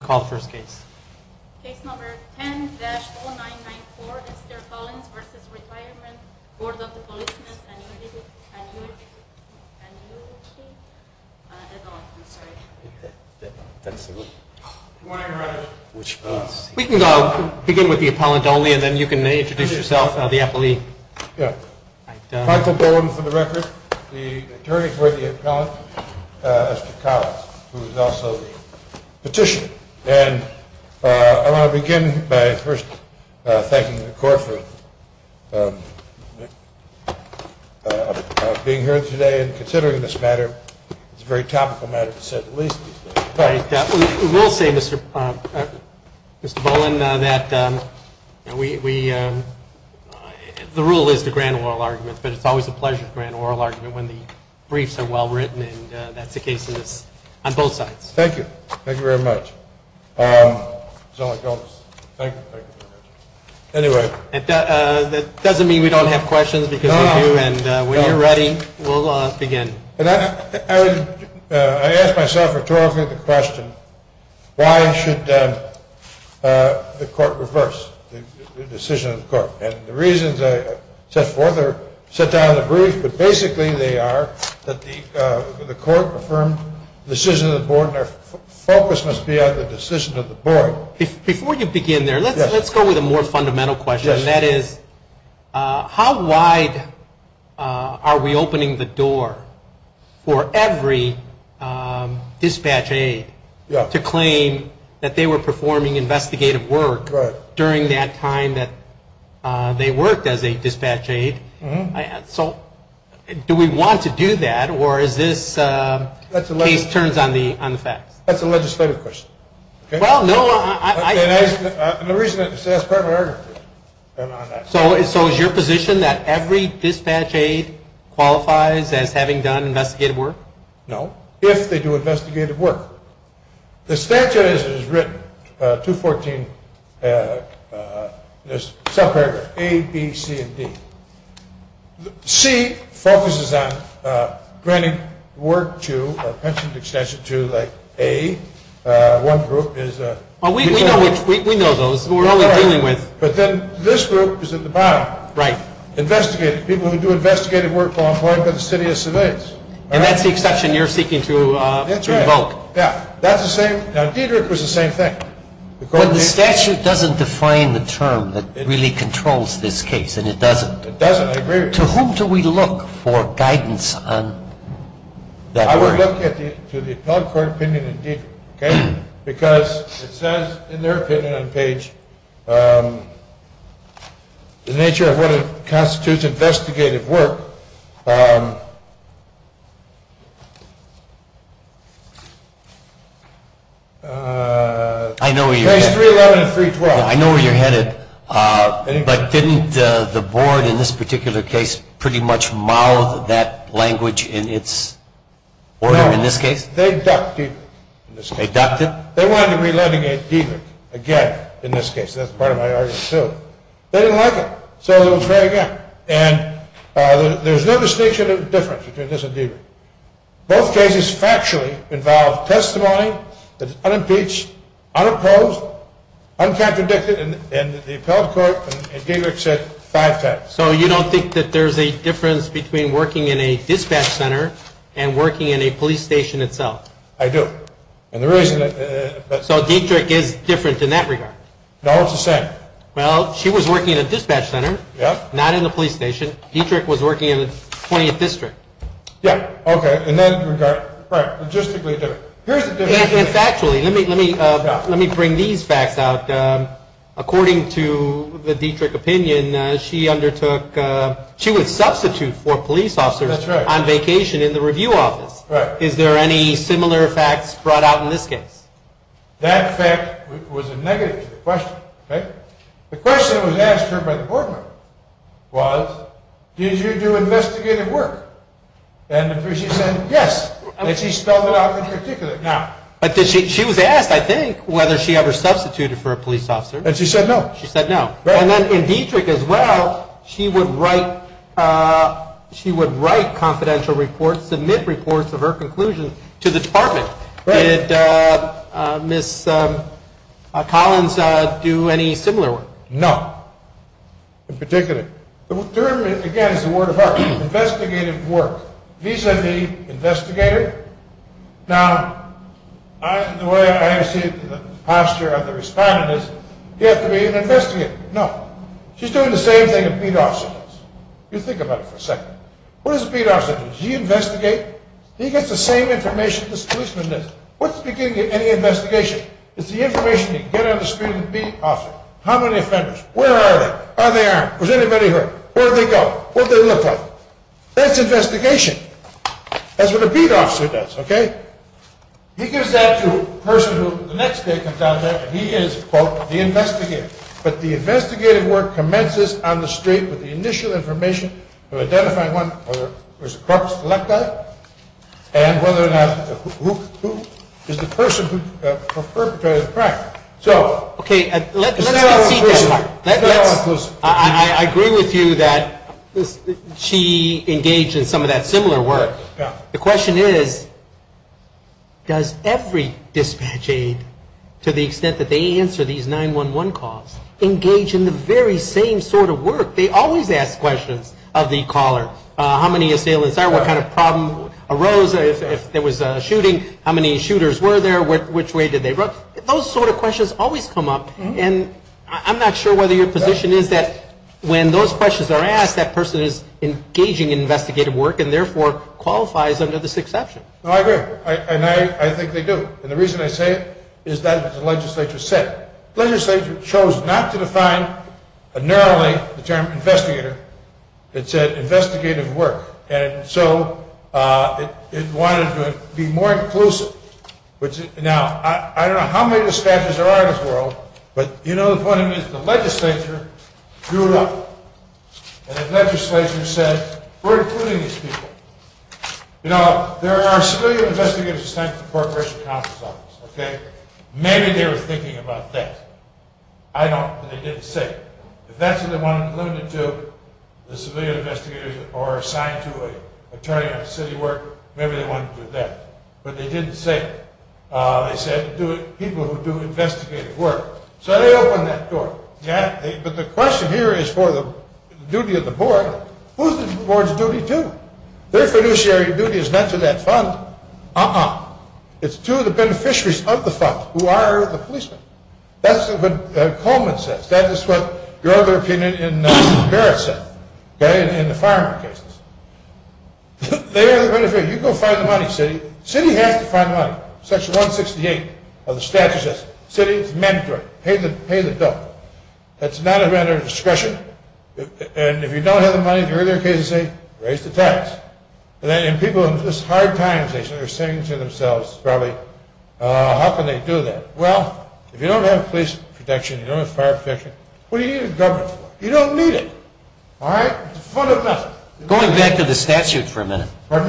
Call the first case. Case number 10-0994, Mr. Collins v. Retirement Board of the Policemen's Annuity and Benefit Fund, Annuity and Benefit Fund, I'm sorry. Do you want to read it? We can begin with the appellant only and then you can introduce yourself, the appellee. Michael Bowen for the record, the attorney for the appellant, Mr. Collins, who is also the petitioner. And I want to begin by first thanking the court for being here today and considering this matter. It's a very topical matter to set at least. We will say, Mr. Bowen, that the rule is to grant oral arguments, but it's always a pleasure to grant an oral argument when the briefs are well written, and that's the case on both sides. Thank you. Thank you very much. That doesn't mean we don't have questions, because we do, and when you're ready, we'll begin. I ask myself rhetorically the question, why should the court reverse the decision of the court? And the reasons I set forth are set down in the brief, but basically they are that the court affirmed the decision of the board, and our focus must be on the decision of the board. Before you begin there, let's go with a more fundamental question, and that is, how wide are we opening the door for every dispatch aide to claim that they were performing investigative work during that time that they worked as a dispatch aide? So do we want to do that, or is this case turns on the facts? That's a legislative question. Well, no, I... And the reason is that it's part of an argument. So is your position that every dispatch aide qualifies as having done investigative work? No, if they do investigative work. The statute as it is written, 214, there's a subparagraph, A, B, C, and D. C focuses on granting work to, or pension extension to, like A, one group is... We know those who we're only dealing with. But then this group is at the bottom. Right. Investigative, people who do investigative work while employed by the city of Civics. And that's the exception you're seeking to invoke. Yeah, that's the same. Now, Dederick was the same thing. But the statute doesn't define the term that really controls this case, and it doesn't. It doesn't. I agree with you. To whom do we look for guidance on that work? Case 311 and 312. I know where you're headed. But didn't the board in this particular case pretty much mouth that language in its order in this case? No, they ducked Dederick. They ducked it? They wanted to relegate Dederick again in this case. That's part of my argument, too. They didn't like it. So it was read again. And there's no distinction of difference between this and Dederick. Both cases factually involve testimony that is unimpeached, unopposed, uncontradicted, and the appellate court in Dederick said five times. So you don't think that there's a difference between working in a dispatch center and working in a police station itself? I do. So Dederick is different in that regard? No, it's the same. Well, she was working in a dispatch center, not in a police station. Dederick was working in the 20th District. Yeah, okay, in that regard. Right, logistically different. Here's the difference. And factually, let me bring these facts out. According to the Dederick opinion, she would substitute for police officers on vacation in the review office. Is there any similar facts brought out in this case? That fact was a negative to the question. The question that was asked her by the board member was, did you do investigative work? And she said yes, and she spelled it out in particular. But she was asked, I think, whether she ever substituted for a police officer. And she said no. She said no. And then in Dederick as well, she would write confidential reports, submit reports of her conclusions to the department. Did Ms. Collins do any similar work? No, in particular. The term, again, is the word of heart. Investigative work. Vis-a-vis investigator. Now, the way I see it, the posture of the respondent is, you have to be an investigator. No. She's doing the same thing a beat officer does. You think about it for a second. What does a beat officer do? Does he investigate? He gets the same information as the policeman does. What's the beginning of any investigation? It's the information you get on the street of the beat officer. How many offenders? Where are they? Are they armed? Was anybody hurt? Where did they go? What did they look like? That's investigation. That's what a beat officer does, okay? He gives that to a person who the next day comes out there, and he is, quote, the investigator. But the investigative work commences on the street with the initial information of identifying whether there's a corpus collecti and whether or not who is the person who perpetrated the crime. Okay, let's concede that part. I agree with you that she engaged in some of that similar work. The question is, does every dispatch aide, to the extent that they answer these 911 calls, engage in the very same sort of work? They always ask questions of the caller. How many assailants are there? What kind of problem arose if there was a shooting? How many shooters were there? Which way did they run? Those sort of questions always come up, and I'm not sure whether your position is that when those questions are asked, that person is engaging in investigative work and, therefore, qualifies under this exception. I agree, and I think they do. And the reason I say it is that the legislature said it. The legislature chose not to define a narrowly determined investigator. It said investigative work, and so it wanted to be more inclusive. Now, I don't know how many dispatchers there are in this world, but you know the point is the legislature drew it up. And the legislature said, we're including these people. You know, there are civilian investigators assigned to the Corporation Counsel's Office, okay? Maybe they were thinking about that. I don't, but they didn't say. If that's what they wanted to limit it to, the civilian investigators, or assigned to an attorney on city work, maybe they wanted to do that. But they didn't say it. They said people who do investigative work. So they opened that door. Yeah, but the question here is for the duty of the board. Who's the board's duty to? Their fiduciary duty is not to that fund. Uh-uh. It's to the beneficiaries of the fund who are the policemen. That's what Coleman says. That is what your other opinion in Barrett said, okay, in the fireman cases. They are the beneficiary. You go find the money, city. City has to find money. Section 168 of the statute says city is mandatory. Pay the bill. That's not a matter of discretion. And if you don't have the money, in the earlier cases, raise the tax. And people in these hard times are saying to themselves probably, how can they do that? Well, if you don't have police protection, you don't have fire protection, what do you need a government for? You don't need it. All right? It's a fund of nothing. Going back to the statute for a minute. Pardon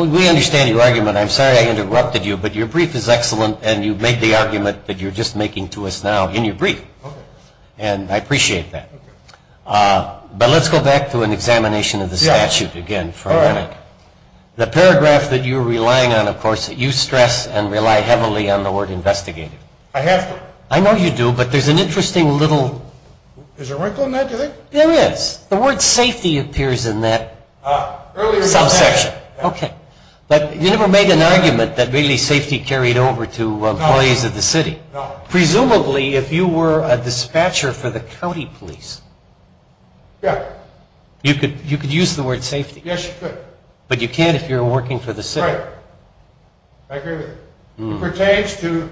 me? We understand your argument. I'm sorry I interrupted you, but your brief is excellent, and you made the argument that you're just making to us now in your brief. Okay. And I appreciate that. Okay. But let's go back to an examination of the statute again for a minute. All right. The paragraph that you're relying on, of course, that you stress and rely heavily on the word investigative. I have to. I know you do, but there's an interesting little. Is there a wrinkle in that, do you think? There is. The word safety appears in that subsection. Okay. But you never made an argument that really safety carried over to employees of the city. No. Presumably, if you were a dispatcher for the county police. Yeah. You could use the word safety. Yes, you could. But you can't if you're working for the city. Right. I agree with you. It pertains to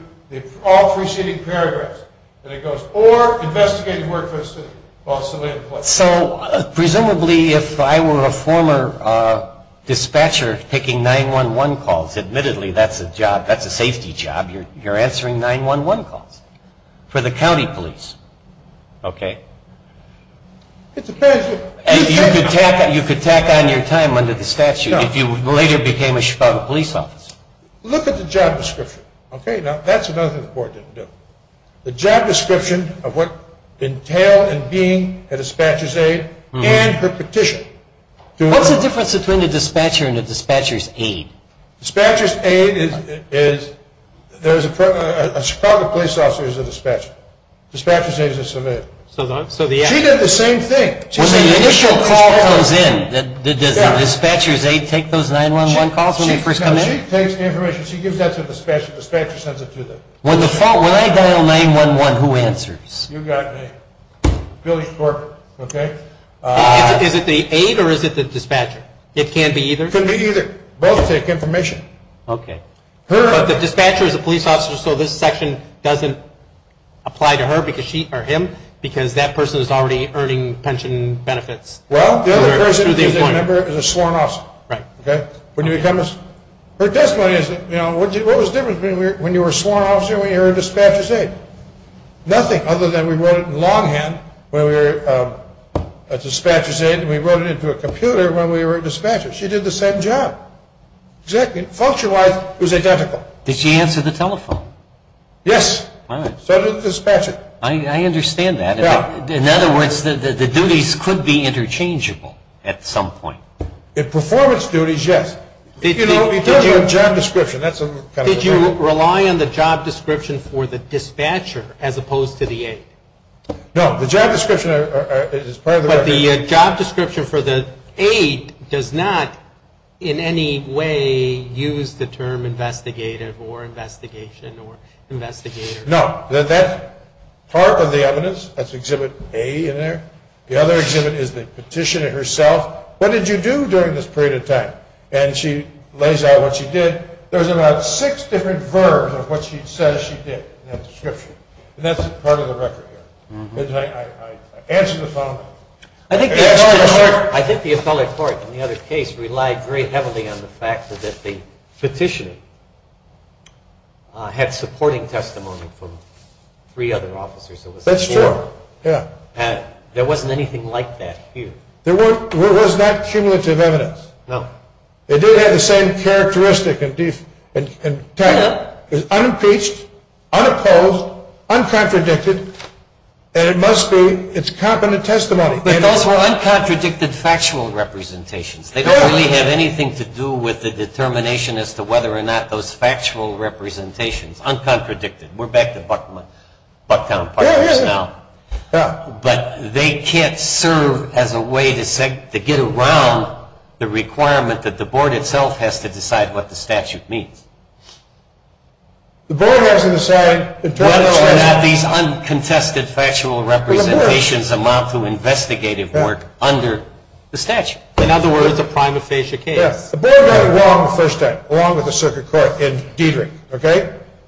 all preceding paragraphs. And it goes, or investigative work for the city, possibly employees. So presumably, if I were a former dispatcher taking 911 calls, admittedly, that's a job, that's a safety job. You're answering 911 calls for the county police. Okay. It depends. You could tack on your time under the statute if you later became a Chicago police officer. Look at the job description. Okay. Now, that's another thing the board didn't do. The job description of what entailed in being a dispatcher's aide and her petition. What's the difference between a dispatcher and a dispatcher's aide? A dispatcher's aide is a Chicago police officer is a dispatcher. A dispatcher's aide is a civilian. She did the same thing. When the initial call comes in, does the dispatcher's aide take those 911 calls when they first come in? No, she takes the information. She gives that to the dispatcher. The dispatcher sends it to them. When I dial 911, who answers? You got me. Billy Corcoran. Okay. Is it the aide or is it the dispatcher? It can be either. It can be either. Both take information. Okay. But the dispatcher is a police officer, so this section doesn't apply to her or him because that person is already earning pension benefits. Well, the other person, if you remember, is a sworn officer. Right. Okay. Her testimony is, you know, what was the difference between when you were a sworn officer and when you were a dispatcher's aide? Nothing other than we wrote it in longhand when we were a dispatcher's aide and we wrote it into a computer when we were a dispatcher. She did the same job. Function-wise, it was identical. Did she answer the telephone? Yes. All right. So did the dispatcher. I understand that. Yeah. In other words, the duties could be interchangeable at some point. In performance duties, yes. You know, we talked about job description. Did you rely on the job description for the dispatcher as opposed to the aide? No. The job description is part of the record. But the job description for the aide does not in any way use the term investigative or investigation or investigator. No. That part of the evidence, that's Exhibit A in there. The other exhibit is the petitioner herself. What did you do during this period of time? And she lays out what she did. There's about six different verbs of what she says she did in that description. And that's part of the record here. Did I answer the phone? I think the appellate court in the other case relied very heavily on the fact that the petitioner had supporting testimony from three other officers. That's true. There wasn't anything like that here. There was not cumulative evidence. No. It did have the same characteristic and type. It was unimpeached, unopposed, uncontradicted, and it must be its competent testimony. But those were uncontradicted factual representations. They don't really have anything to do with the determination as to whether or not those factual representations, uncontradicted. We're back to Bucktown Partners now. But they can't serve as a way to get around the requirement that the board itself has to decide what the statute means. The board has to decide. These uncontested factual representations amount to investigative work under the statute. In other words, a prima facie case. The board got it wrong the first time, along with the circuit court in Dietrich.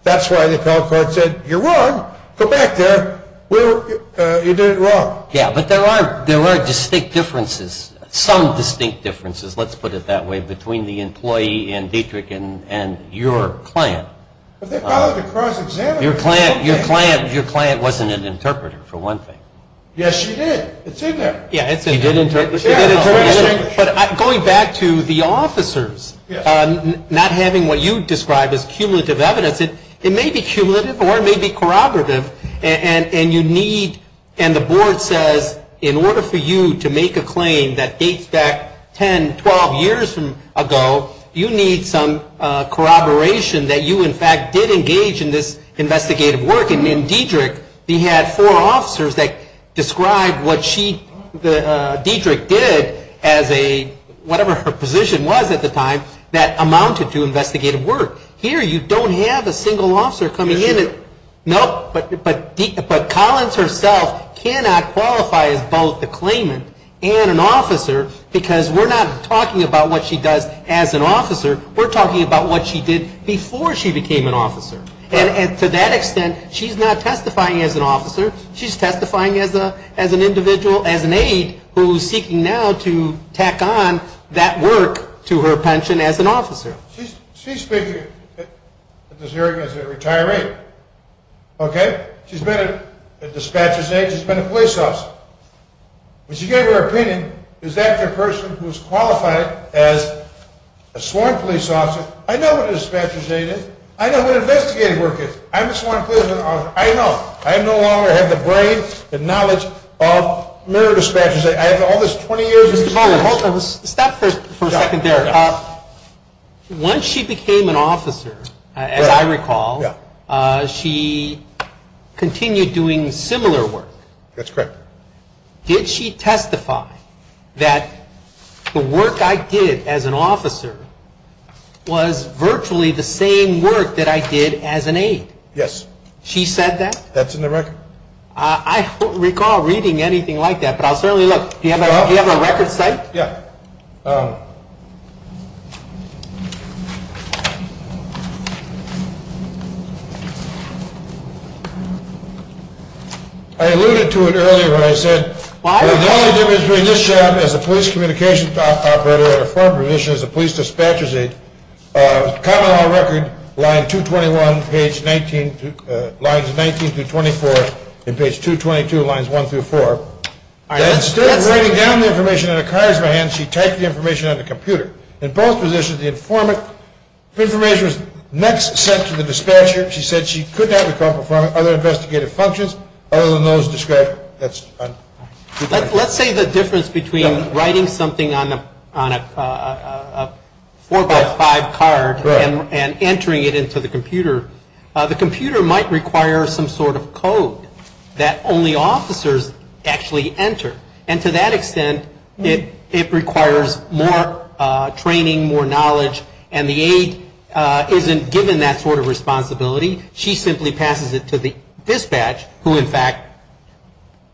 That's why the appellate court said you're wrong. Go back there. You did it wrong. Yeah, but there are distinct differences, some distinct differences, let's put it that way, between the employee in Dietrich and your client. But they followed a cross-examination. Your client wasn't an interpreter, for one thing. Yes, she did. It's in there. Yeah, it's in there. She did interpret. But going back to the officers not having what you described as cumulative evidence, it may be cumulative or it may be corroborative. And you need, and the board says, in order for you to make a claim that dates back 10, 12 years ago, you need some corroboration that you, in fact, did engage in this investigative work. And in Dietrich, we had four officers that described what Dietrich did as a, whatever her position was at the time, that amounted to investigative work. Here, you don't have a single officer coming in. Nope. But Collins herself cannot qualify as both a claimant and an officer because we're not talking about what she does as an officer. We're talking about what she did before she became an officer. And to that extent, she's not testifying as an officer. She's testifying as an individual, as an aide, who's seeking now to tack on that work to her pension as an officer. She's speaking at this hearing as a retiree, okay? She's been a dispatcher's aide. She's been a police officer. When she gave her opinion, is that the person who's qualified as a sworn police officer? I know what a dispatcher's aide is. I know what investigative work is. I'm a sworn police officer. I know. I no longer have the brain, the knowledge of mere dispatchers. I have all this 20 years experience. Stop for a second there. Once she became an officer, as I recall, she continued doing similar work. That's correct. Did she testify that the work I did as an officer was virtually the same work that I did as an aide? Yes. She said that? That's in the record. I don't recall reading anything like that, but I'll certainly look. Do you have a record cite? Yeah. I alluded to it earlier when I said the only difference between this job as a police communications operator and a former position as a police dispatcher's aide, common law record, line 221, page 19, lines 19 through 24, and page 222, lines 1 through 4. Instead of writing down the information on a card in her hand, she typed the information on the computer. In both positions, the information was next sent to the dispatcher. She said she could not recall from other investigative functions other than those described. Let's say the difference between writing something on a 4-by-5 card and entering it into the computer. The computer might require some sort of code that only officers actually enter. And to that extent, it requires more training, more knowledge, and the aide isn't given that sort of responsibility. She simply passes it to the dispatch, who in fact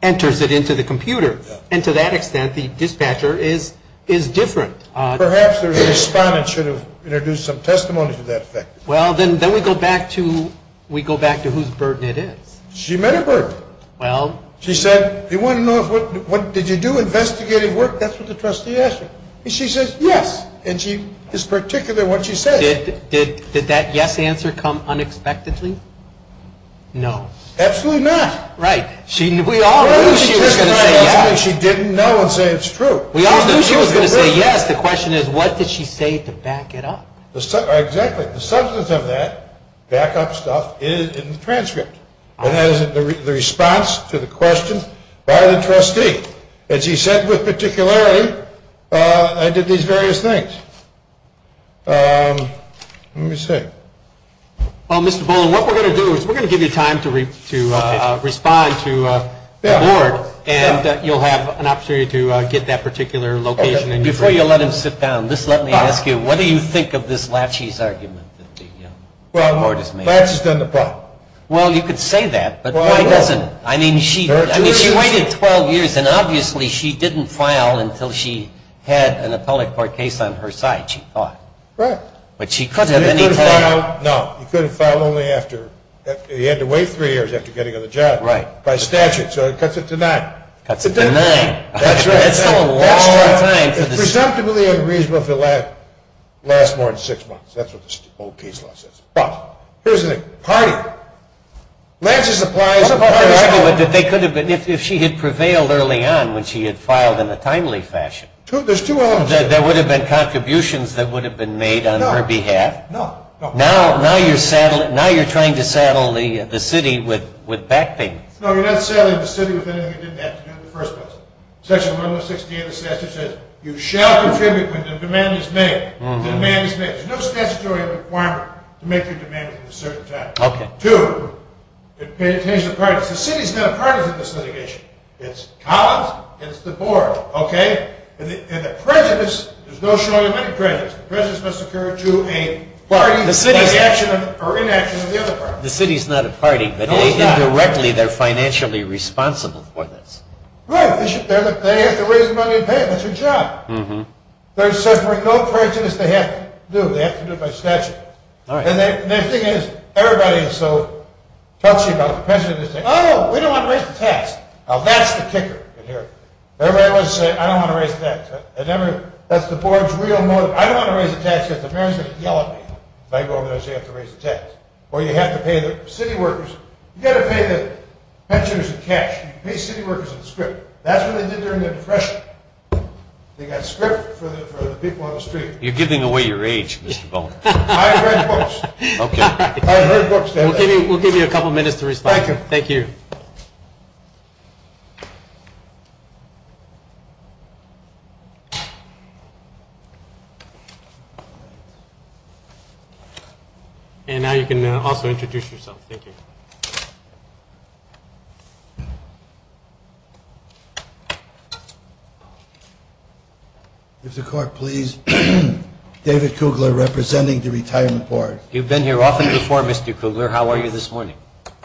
enters it into the computer. And to that extent, the dispatcher is different. Perhaps the respondent should have introduced some testimony to that effect. Well, then we go back to whose burden it is. She met a burden. Well. She said, do you want to know, did you do investigative work? That's what the trustee asked her. And she says, yes. And she is particular in what she says. Did that yes answer come unexpectedly? No. Absolutely not. Right. We all knew she was going to say yes. She didn't know and say it's true. We all knew she was going to say yes. The question is, what did she say to back it up? Exactly. The substance of that backup stuff is in the transcript. And that is the response to the question by the trustee. As he said with particularity, I did these various things. Let me see. Well, Mr. Boland, what we're going to do is we're going to give you time to respond to the board. And you'll have an opportunity to get that particular location. Before you let him sit down, just let me ask you, what do you think of this Lachey's argument that the board has made? Well, Lachey's done the problem. Well, you could say that, but why doesn't? I mean, she waited 12 years, and obviously she didn't file until she had an appellate court case on her side, she thought. Right. But she could have any time. No. You could have filed only after he had to wait three years after getting on the job. Right. By statute. So it cuts it to nine. Cuts it to nine. That's right. That's a long time. It's presumptively unreasonable if it lasts more than six months. That's what the old case law says. Here's the thing. Party. Lachey's applies a party statute. What about the argument that they could have been, if she had prevailed early on when she had filed in a timely fashion. There's two elements. That there would have been contributions that would have been made on her behalf. No. Now you're trying to saddle the city with back payments. No, you're not saddling the city with anything you didn't have to do in the first place. Section 106D of the statute says, you shall contribute when the demand is made. The demand is made. There's no statutory requirement to make your demand at a certain time. Two. The city's not a party to this litigation. It's Collins. It's the board. Okay? And the prejudice, there's no showing of any prejudice. Prejudice must occur to a party by the action or inaction of the other party. The city's not a party. No, it's not. Indirectly, they're financially responsible for this. Right. They have to raise the money and pay it. That's their job. They're suffering no prejudice. They have to do it. They have to do it by statute. All right. And the thing is, everybody is so touchy about the prejudice. They say, oh, we don't want to raise the tax. Now, that's the kicker in here. Everybody wants to say, I don't want to raise the tax. That's the board's real motive. I don't want to raise the tax because the mayor's going to yell at me if I go over there and say you have to raise the tax. Or you have to pay the city workers. You've got to pay the pensioners in cash. You pay city workers in the script. That's what they did during the Depression. They got script for the people on the street. You're giving away your age, Mr. Bowman. I've read books. Okay. I've heard books. We'll give you a couple minutes to respond. Thank you. Thank you. And now you can also introduce yourself. Thank you. Mr. Clark, please. David Kugler, representing the Retirement Board. You've been here often before, Mr. Kugler. How are you this morning?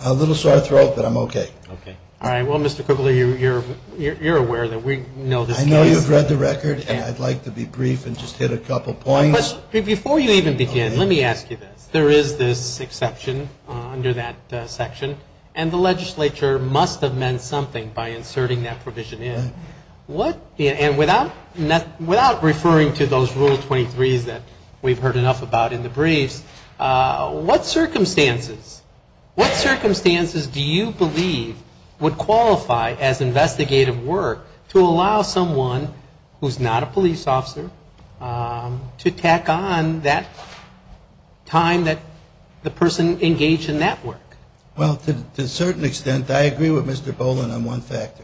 A little sore throat, but I'm okay. Okay. All right. Well, Mr. Kugler, you're aware that we know this case. I know you've read the record, and I'd like to be brief and just hit a couple points. Before you even begin, let me ask you this. There is this exception under that section, and the legislature must have meant something by inserting that provision in. And without referring to those Rule 23s that we've heard enough about in the briefs, what circumstances do you believe would qualify as investigative work to allow someone who's not a police officer to tack on that time that the person engaged in that work? Well, to a certain extent, I agree with Mr. Boland on one factor.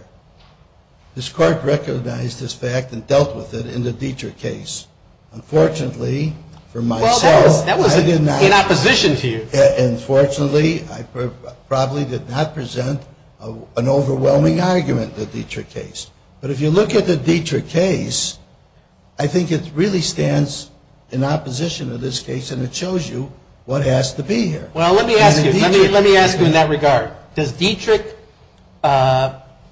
This Court recognized this fact and dealt with it in the Dietrich case. Unfortunately, for myself, I did not. Well, that was in opposition to you. Unfortunately, I probably did not present an overwhelming argument in the Dietrich case. But if you look at the Dietrich case, I think it really stands in opposition to this case, and it shows you what has to be here. Well, let me ask you. Let me ask you in that regard. Does Dietrich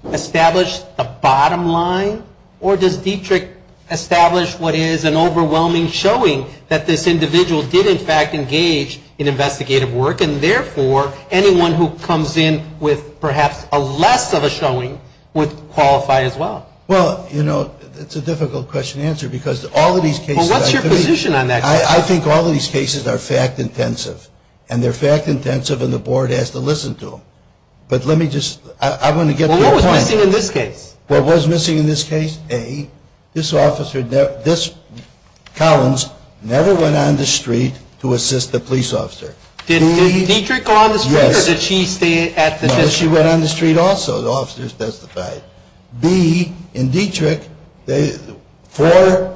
establish the bottom line, or does Dietrich establish what is an overwhelming showing that this individual did, in fact, engage in investigative work, and therefore, anyone who comes in with perhaps a less of a showing would qualify as well? Well, you know, it's a difficult question to answer because all of these cases... Well, what's your position on that? I think all of these cases are fact-intensive, and they're fact-intensive, and the Board has to listen to them. But let me just... I want to get to your point. Well, what was missing in this case? What was missing in this case? A, this officer, this Collins, never went on the street to assist a police officer. Did Dietrich go on the street, or did she stay at the district? No, she went on the street also, the officers testified. B, in Dietrich, four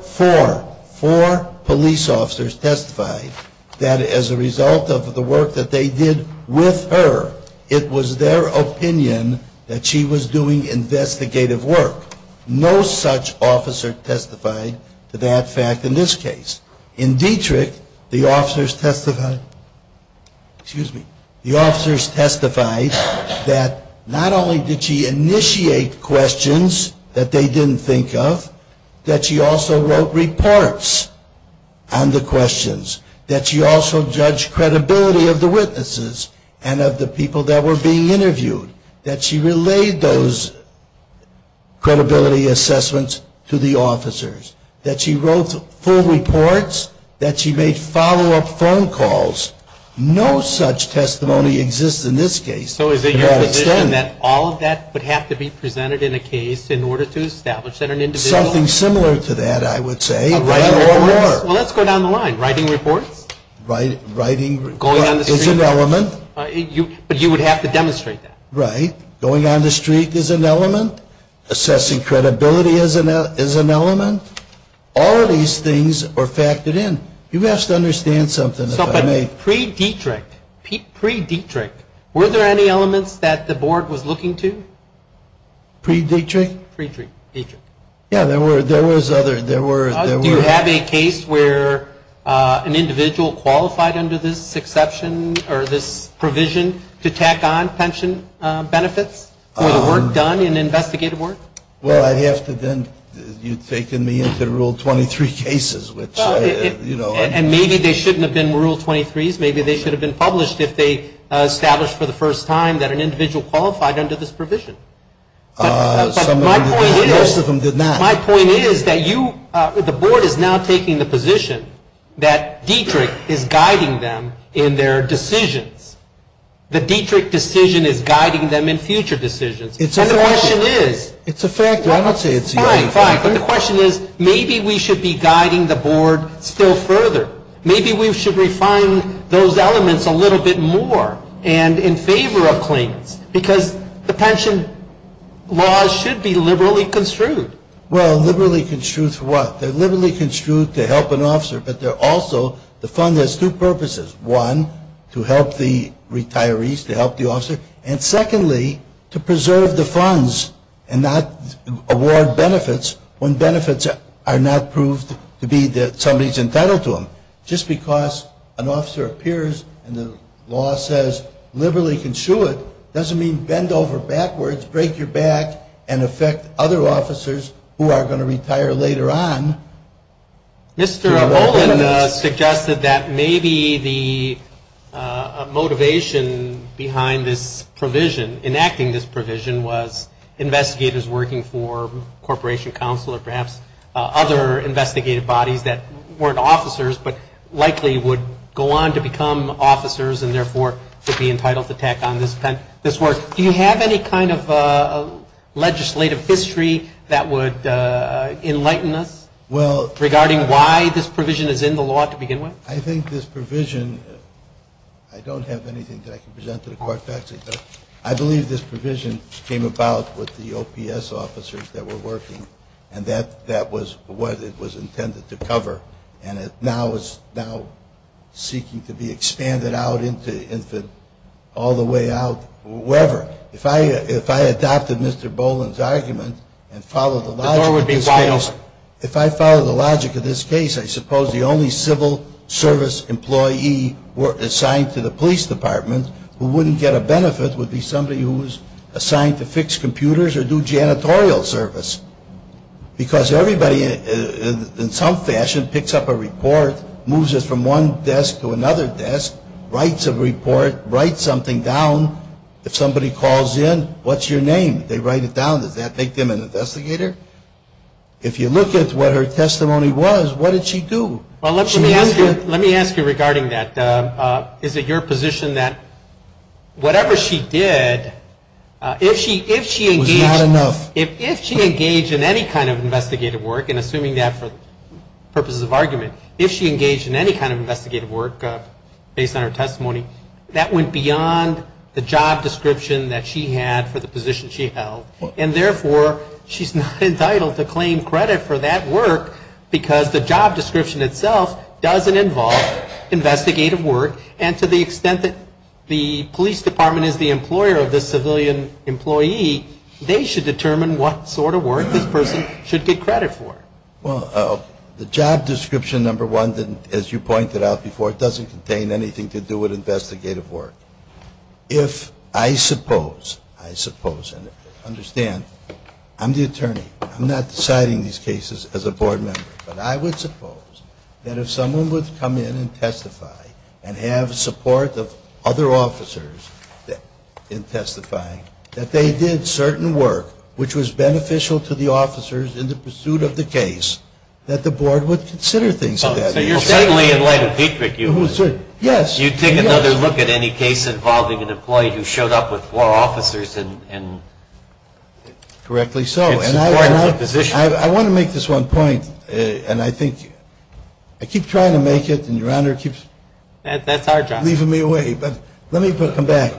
police officers testified that as a result of the work that they did with her, it was their opinion that she was doing investigative work. No such officer testified to that fact in this case. In Dietrich, the officers testified that not only did she initiate questions that they didn't think of, that she also wrote reports on the questions. That she also judged credibility of the witnesses and of the people that were being interviewed. That she relayed those credibility assessments to the officers. That she wrote full reports. That she made follow-up phone calls. No such testimony exists in this case. So is it your position that all of that would have to be presented in a case in order to establish that an individual... Something similar to that, I would say. Well, let's go down the line. Writing reports? Writing reports is an element. Right. Going on the street is an element. Assessing credibility is an element. All of these things are factored in. You have to understand something, if I may. But pre-Dietrich, were there any elements that the board was looking to? Pre-Dietrich? Pre-Dietrich. Yeah, there was other... Do you have a case where an individual qualified under this exception or this provision to tack on pension benefits for the work done in investigative work? Well, I'd have to then... You've taken me into Rule 23 cases, which, you know... And maybe they shouldn't have been Rule 23s. Maybe they should have been published if they established for the first time that an individual qualified under this provision. But my point is... Most of them did not. My point is that you... The board is now taking the position that Dietrich is guiding them in their decisions. The Dietrich decision is guiding them in future decisions. And the question is... It's a factor. I don't say it's the only factor. Fine, fine. But the question is, maybe we should be guiding the board still further. Maybe we should refine those elements a little bit more and in favor of claims. Because the pension laws should be liberally construed. Well, liberally construed for what? They're liberally construed to help an officer, but they're also... To help the retirees, to help the officer. And secondly, to preserve the funds and not award benefits when benefits are not proved to be somebody's entitled to them. Just because an officer appears and the law says liberally construed doesn't mean bend over backwards, break your back, and affect other officers who are going to retire later on. Mr. Olin suggested that maybe the motivation behind this provision, enacting this provision, was investigators working for corporation counsel or perhaps other investigative bodies that weren't officers but likely would go on to become officers and therefore would be entitled to tack on this work. Do you have any kind of legislative history that would enlighten us? Regarding why this provision is in the law to begin with? I think this provision, I don't have anything that I can present to the court factually, but I believe this provision came about with the OPS officers that were working and that was what it was intended to cover. And it now is seeking to be expanded out into all the way out wherever. If I adopted Mr. Boland's argument and followed the logic... The door would be wide open. If I followed the logic of this case, I suppose the only civil service employee assigned to the police department who wouldn't get a benefit would be somebody who was assigned to fix computers or do janitorial service. Because everybody in some fashion picks up a report, moves it from one desk to another desk, writes a report, writes something down. If somebody calls in, what's your name? They write it down. Does that make them an investigator? If you look at what her testimony was, what did she do? Well, let me ask you regarding that. Is it your position that whatever she did, if she engaged... Was not enough. If she engaged in any kind of investigative work, and assuming that for purposes of argument, if she engaged in any kind of investigative work based on her testimony, that went beyond the job description that she had for the position she held, and therefore she's not entitled to claim credit for that work because the job description itself doesn't involve investigative work, and to the extent that the police department is the employer of this civilian employee, they should determine what sort of work this person should get credit for. Well, the job description, number one, as you pointed out before, doesn't contain anything to do with investigative work. If I suppose, I suppose, and understand, I'm the attorney. I'm not deciding these cases as a board member. But I would suppose that if someone would come in and testify and have support of other officers in testifying, that they did certain work which was beneficial to the officers in the pursuit of the case, that the board would consider things like that. So you're saying in light of Petrick you would... Yes. You'd take another look at any case involving an employee who showed up with four officers and... Correctly so. In support of the position. I want to make this one point, and I think, I keep trying to make it, and Your Honor keeps... That's our job. Leaving me away. But let me come back.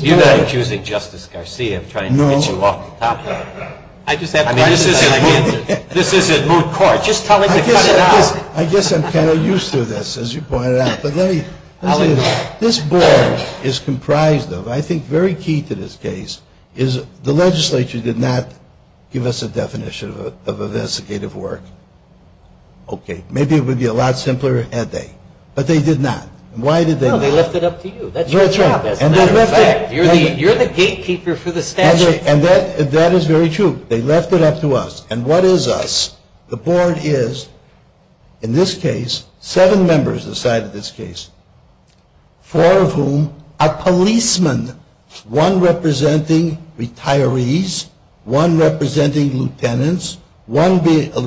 You're not accusing Justice Garcia of trying to get you off the top of it. I just have questions. This isn't moot court. Just tell him to cut it out. I guess I'm kind of used to this, as you pointed out. This board is comprised of, I think very key to this case, is the legislature did not give us a definition of investigative work. Okay. Maybe it would be a lot simpler had they. But they did not. Why did they not? Well, they left it up to you. That's your job. That's a matter of fact. You're the gatekeeper for the statute. And that is very true. They left it up to us. And what is us? The board is, in this case, seven members inside of this case, four of whom are policemen, one representing retirees, one representing lieutenants, one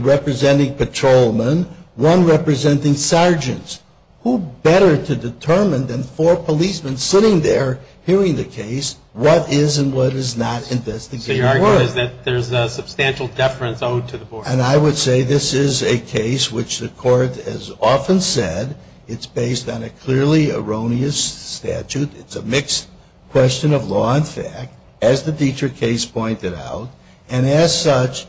representing patrolmen, one representing sergeants. Who better to determine than four policemen sitting there hearing the case, what is and what is not investigative work? So your argument is that there's a substantial deference owed to the board. And I would say this is a case which the court has often said it's based on a clearly erroneous statute. It's a mixed question of law and fact, as the Dietrich case pointed out. And as such,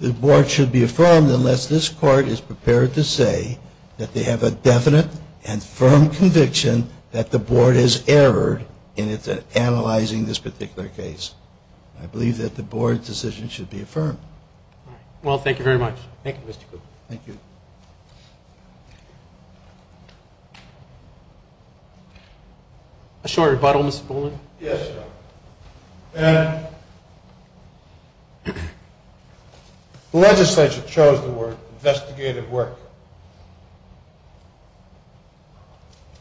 the board should be affirmed unless this court is prepared to say that they have a definite and firm conviction that the board has erred in analyzing this particular case. I believe that the board decision should be affirmed. Well, thank you very much. Thank you, Mr. Krugman. Thank you. A short rebuttal, Mr. Goldman? Yes, sir. And the legislature chose the word investigative work.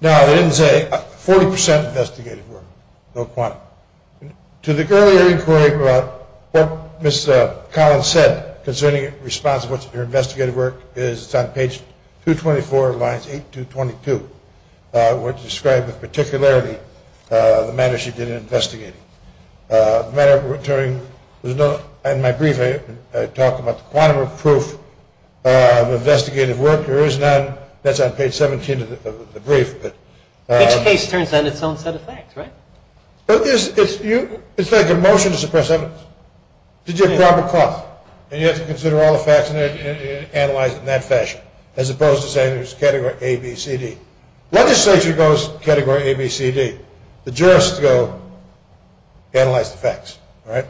Now, they didn't say 40% investigative work, no quantum. To the earlier inquiry about what Ms. Collins said concerning the response of what's in her investigative work, it's on page 224, lines 8 to 22, which described particularly the manner she did in investigating. The matter of returning was known. In my brief, I talk about the quantum of proof of investigative work. There is none. That's on page 17 of the brief. Each case turns on its own set of facts, right? It's like a motion to suppress evidence. It's a proper clause. And you have to consider all the facts and analyze them in that fashion, as opposed to saying there's category A, B, C, D. Legislature goes category A, B, C, D. The jurists go analyze the facts, right?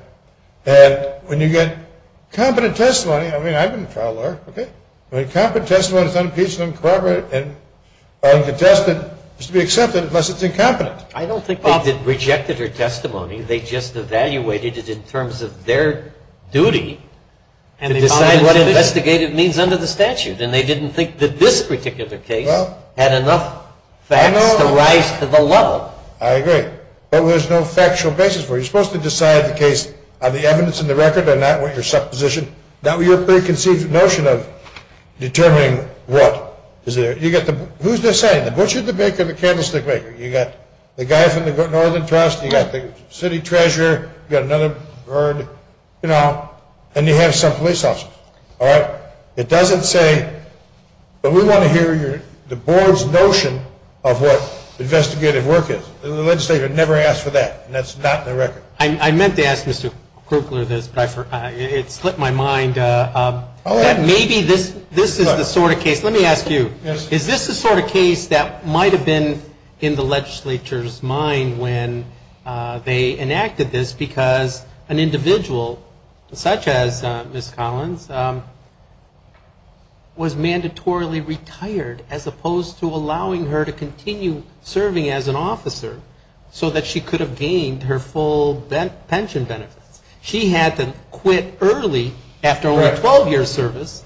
And when you get competent testimony, I mean, I've been a trial lawyer, okay? When competent testimony is unimpeachable and corroborated and contested, it's to be accepted unless it's incompetent. I don't think they rejected her testimony. They just evaluated it in terms of their duty to decide what investigative means under the statute. And they didn't think that this particular case had enough facts to rise to the level. I agree. But there's no factual basis for it. You're supposed to decide the case on the evidence in the record and not what your supposition, not what your preconceived notion of determining what is there. Who's this saying? The butcher, the baker, the candlestick maker. You got the guy from the Northern Trust. You got the city treasurer. You got another bird, you know, and you have some police officers. All right? It doesn't say, but we want to hear the board's notion of what investigative work is. The legislature never asked for that, and that's not in the record. I meant to ask Mr. Krugler this, but it slipped my mind. Maybe this is the sort of case. Let me ask you. Is this the sort of case that might have been in the legislature's mind when they enacted this because an individual such as Ms. Collins was mandatorily retired as opposed to allowing her to continue serving as an officer so that she could have gained her full pension benefits? She had to quit early after only a 12-year service,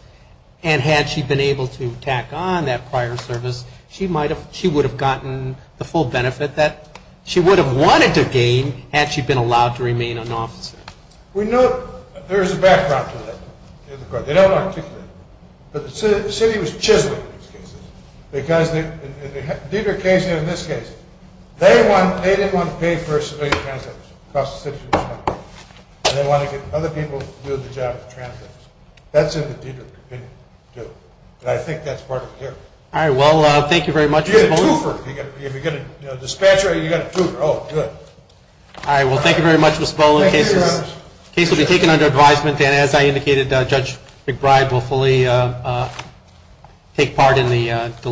and had she been able to tack on that prior service, she would have gotten the full benefit that she would have wanted to gain had she been allowed to remain an officer. We know there is a background to that in the court. They don't articulate it. But the city was chiseled in these cases because in the Dieter case and in this case, they didn't want to pay for civilian transit across the city. They wanted to get other people to do the job of the transit. That's what the Dieter didn't do, and I think that's part of it here. All right. Well, thank you very much, Mr. Boland. You get a twofer. If you get a dispatcher, you get a twofer. Oh, good. All right. Well, thank you very much, Mr. Boland. The case will be taken under advisement, and as I indicated, Judge McBride will fully take part in the deliberations.